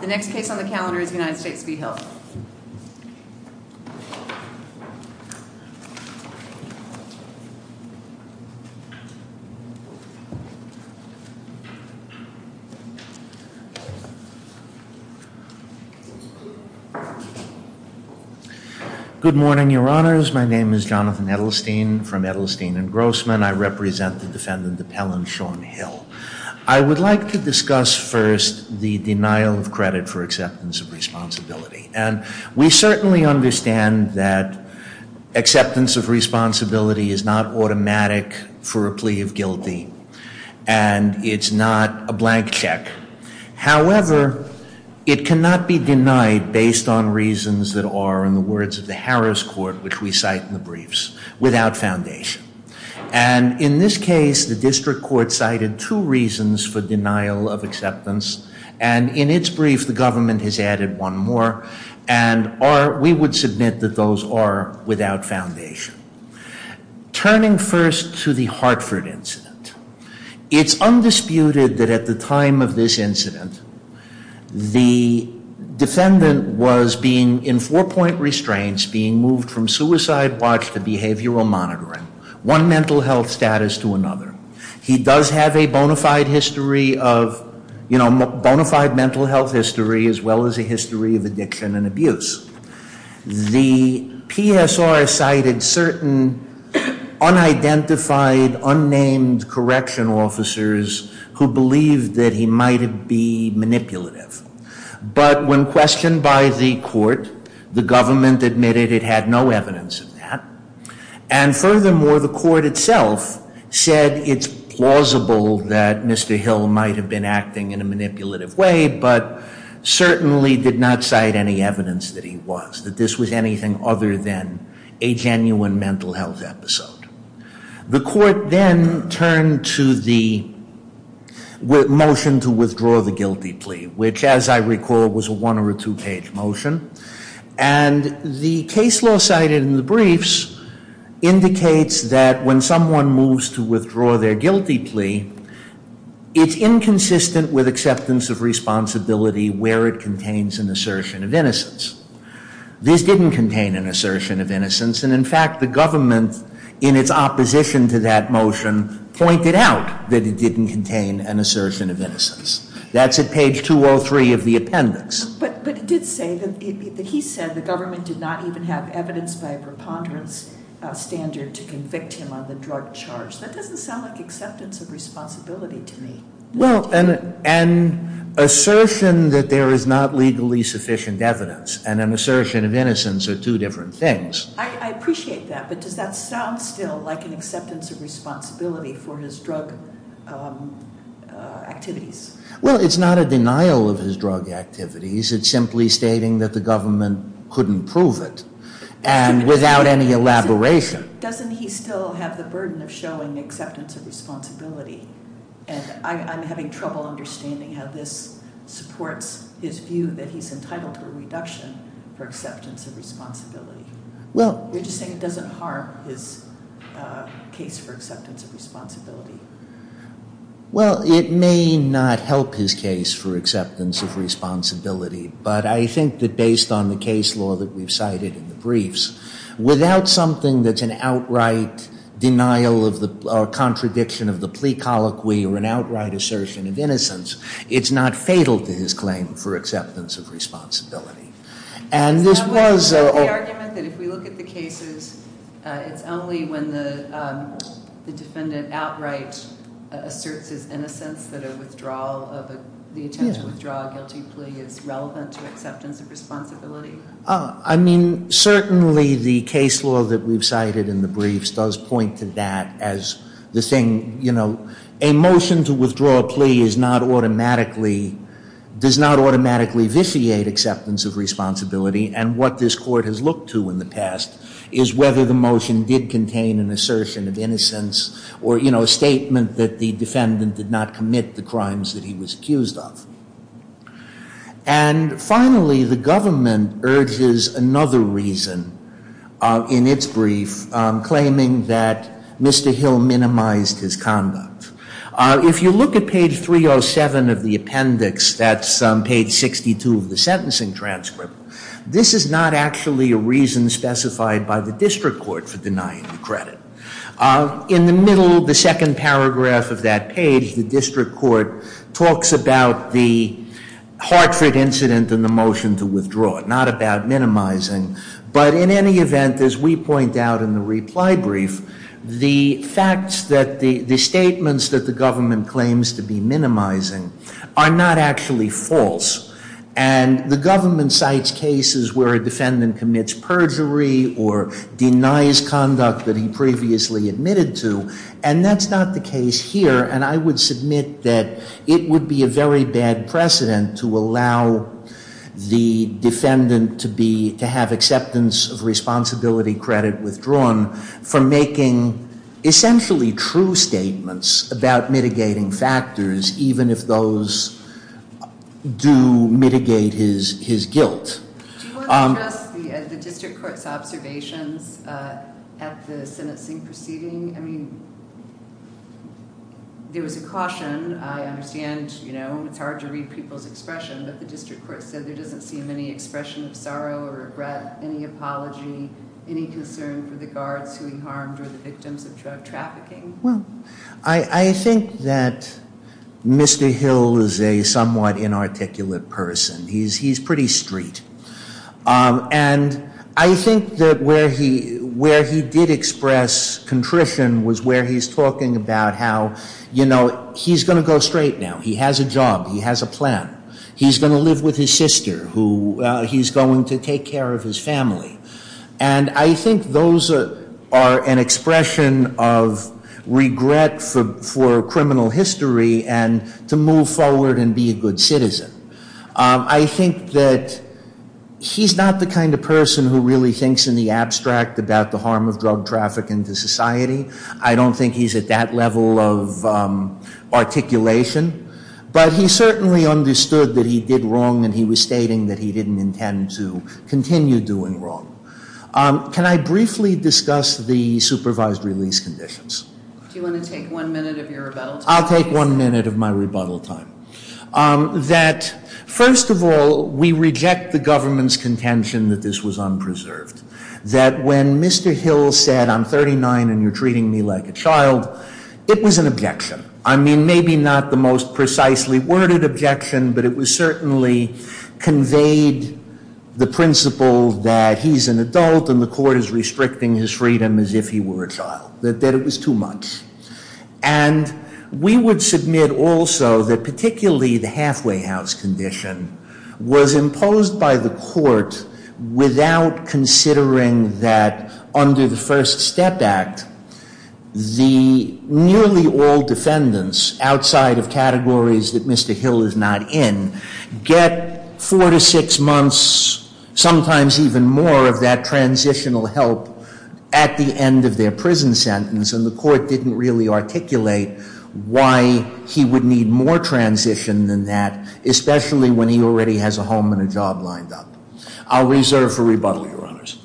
The next case on the calendar is United States v. Hill. Good morning, your honors. My name is Jonathan Edelstein from Edelstein and Grossman. I represent the defendant appellant Sean Hill. I would like to discuss first the denial of credit for acceptance of responsibility. And we certainly understand that acceptance of responsibility is not automatic for a plea of guilty, and it's not a blank check. However, it cannot be denied based on reasons that are, in the words of the Harris Court, which we cite in And in this case, the district court cited two reasons for denial of acceptance, and in its brief, the government has added one more, and are, we would submit that those are without foundation. Turning first to the Hartford incident, it's undisputed that at the time of this incident, the defendant was being in four-point restraints, being moved from suicide watch to behavioral monitoring, one mental health status to another. He does have a bona fide history of, you know, bona fide mental health history, as well as a history of addiction and abuse. The PSR cited certain unidentified, unnamed correction officers who believed that he might be manipulative. But when questioned by the court, the government admitted it had no evidence of that. And furthermore, the court itself said it's plausible that Mr. Hill might have been acting in a manipulative way, but certainly did not cite any evidence that he was, that this was anything other than a genuine mental health episode. The court then turned to the motion to withdraw the guilty plea, which, as I recall, was a one- or a two-page motion. And the case law cited in the briefs indicates that when someone moves to withdraw their guilty plea, it's inconsistent with acceptance of responsibility where it contains an assertion of innocence. This didn't contain an assertion of innocence. And in fact, the government, in its opposition to that motion, pointed out that it didn't contain an assertion of innocence. That's at page 203 of the appendix. But it did say that he said the government did not even have evidence by a preponderance standard to convict him on the drug charge. That doesn't sound like acceptance of responsibility to me. Well, an assertion that there is not legally sufficient evidence and an assertion of innocence are two different things. I appreciate that, but does that sound still like an acceptance of responsibility for his drug activities? Well, it's not a denial of his drug activities. It's simply stating that the government couldn't prove it without any elaboration. Doesn't he still have the burden of showing acceptance of responsibility? And I'm having trouble understanding how this supports his view that he's entitled to a reduction for acceptance of responsibility. You're just saying it doesn't harm his case for acceptance of responsibility. Well, it may not help his case for acceptance of responsibility, but I think that based on the case law that we've cited in the briefs, without something that's an outright denial or contradiction of the plea colloquy or an outright assertion of innocence, it's not fatal to his claim for acceptance of responsibility. Is that the argument, that if we look at the cases, it's only when the defendant outright asserts his innocence that the intent to withdraw a guilty plea is relevant to acceptance of responsibility? I mean, certainly the case law that we've cited in the briefs does point to that as the thing, you know, a motion to withdraw a plea is not automatically, does not automatically vitiate acceptance of responsibility. And what this court has looked to in the past is whether the motion did contain an assertion of innocence or, you know, a statement that the defendant did not commit the crimes that he was accused of. And finally, the government urges another reason in its brief, claiming that Mr. Hill minimized his conduct. If you look at page 307 of the appendix, that's page 62 of the sentencing transcript, this is not actually a reason specified by the district court for denying the credit. In the middle of the second paragraph of that page, the district court talks about the Hartford incident and the motion to withdraw, not about minimizing. But in any event, as we point out in the reply brief, the facts that the statements that the government claims to be minimizing are not actually false. And the government cites cases where a defendant commits perjury or denies conduct that he previously admitted to. And that's not the case here. And I would submit that it would be a very bad precedent to allow the defendant to be, to have acceptance of responsibility credit withdrawn for making essentially true statements about mitigating factors, even if those do mitigate his guilt. Do you want to address the district court's observations at the sentencing proceeding? I mean, there was a caution. I understand, you know, it's hard to read people's expression. But the district court said there doesn't seem any expression of sorrow or regret, any apology, any concern for the guards who he harmed or the victims of drug trafficking. Well, I think that Mr. Hill is a somewhat inarticulate person. He's pretty street. And I think that where he did express contrition was where he's talking about how, you know, he's going to go straight now. He has a job. He has a plan. He's going to live with his sister who he's going to take care of his family. And I think those are an expression of regret for criminal history and to move forward and be a good citizen. I think that he's not the kind of person who really thinks in the abstract about the harm of drug trafficking to society. I don't think he's at that level of articulation. But he certainly understood that he did wrong and he was stating that he didn't intend to continue doing wrong. Can I briefly discuss the supervised release conditions? Do you want to take one minute of your rebuttal time? I'll take one minute of my rebuttal time. That, first of all, we reject the government's contention that this was unpreserved. That when Mr. Hill said, I'm 39 and you're treating me like a child, it was an objection. I mean, maybe not the most precisely worded objection, but it was certainly conveyed the principle that he's an adult and the court is restricting his freedom as if he were a child. That it was too much. And we would submit also that particularly the halfway house condition was imposed by the court without considering that under the First Step Act, the nearly all defendants outside of categories that Mr. Hill is not in get four to six months, sometimes even more, of that transitional help at the end of their prison sentence. And the court didn't really articulate why he would need more transition than that, especially when he already has a home and a job lined up. I'll reserve for rebuttal, Your Honors.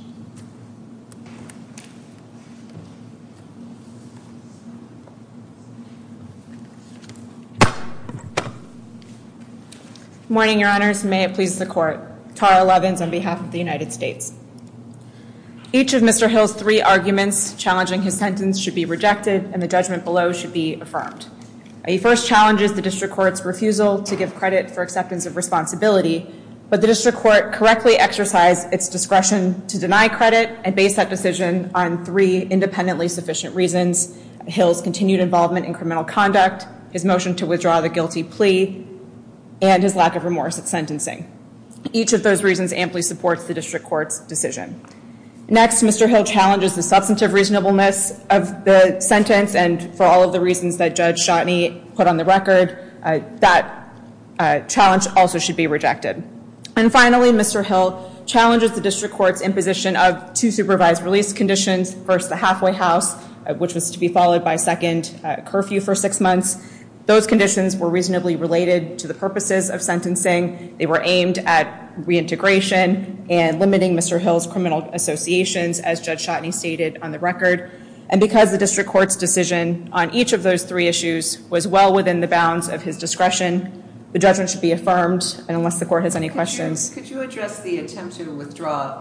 Morning, Your Honors. May it please the court. Tara Levens on behalf of the United States. Each of Mr. Hill's three arguments challenging his sentence should be rejected and the judgment below should be affirmed. He first challenges the district court's refusal to give credit for acceptance of responsibility, but the district court correctly exercised its discretion to deny credit and base that decision on three independently sufficient reasons. Hill's continued involvement in criminal conduct, his motion to withdraw the guilty plea, and his lack of remorse at sentencing. Each of those reasons amply supports the district court's decision. Next, Mr. Hill challenges the substantive reasonableness of the sentence, and for all of the reasons that Judge Shotney put on the record, that challenge also should be rejected. And finally, Mr. Hill challenges the district court's imposition of two supervised release conditions. First, the halfway house, which was to be followed by a second curfew for six months. Those conditions were reasonably related to the purposes of sentencing. They were aimed at reintegration and limiting Mr. Hill's criminal associations, as Judge Shotney stated on the record. And because the district court's decision on each of those three issues was well within the bounds of his discretion, the judgment should be affirmed, and unless the court has any questions. Could you address the attempt to withdraw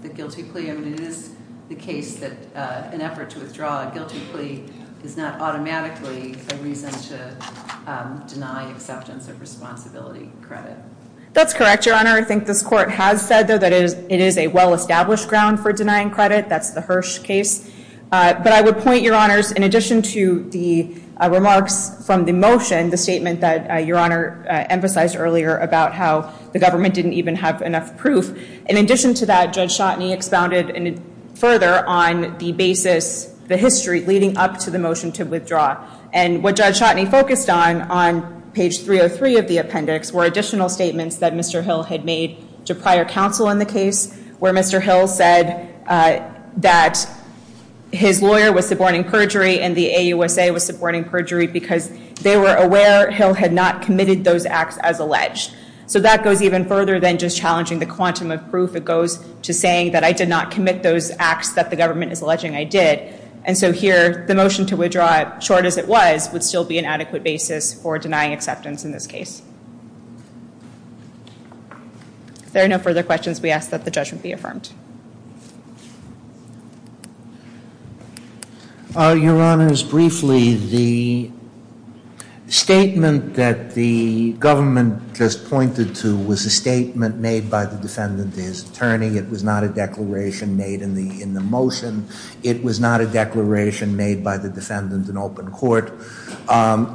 the guilty plea? It is the case that an effort to withdraw a guilty plea is not automatically a reason to deny acceptance of responsibility credit. That's correct, Your Honor. I think this court has said, though, that it is a well-established ground for denying credit. That's the Hirsch case. But I would point, Your Honors, in addition to the remarks from the motion, the statement that Your Honor emphasized earlier about how the government didn't even have enough proof, in addition to that, Judge Shotney expounded further on the basis, the history leading up to the motion to withdraw. And what Judge Shotney focused on, on page 303 of the appendix, were additional statements that Mr. Hill had made to prior counsel in the case, where Mr. Hill said that his lawyer was supporting perjury and the AUSA was supporting perjury because they were aware Hill had not committed those acts as alleged. So that goes even further than just challenging the quantum of proof. It goes to saying that I did not commit those acts that the government is alleging I did. And so here, the motion to withdraw, short as it was, would still be an adequate basis for denying acceptance in this case. If there are no further questions, we ask that the judgment be affirmed. Your Honors, briefly, the statement that the government just pointed to was a statement made by the defendant to his attorney. It was not a declaration made in the motion. It was not a declaration made by the defendant in open court.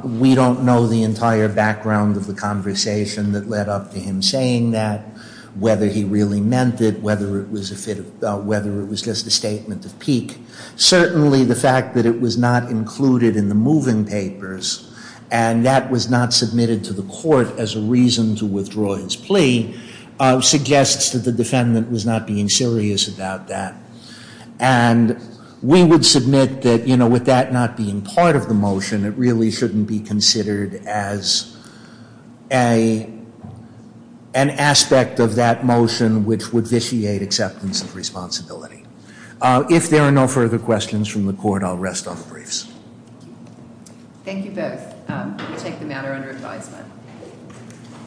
We don't know the entire background of the conversation that led up to him saying that, whether he really meant it, whether it was just a statement of pique. Certainly, the fact that it was not included in the moving papers, and that was not submitted to the court as a reason to withdraw his plea, suggests that the defendant was not being serious about that. And we would submit that, you know, with that not being part of the motion, it really shouldn't be considered as an aspect of that motion which would vitiate acceptance of responsibility. If there are no further questions from the court, I'll rest on the briefs. Thank you both. We'll take the matter under advisement.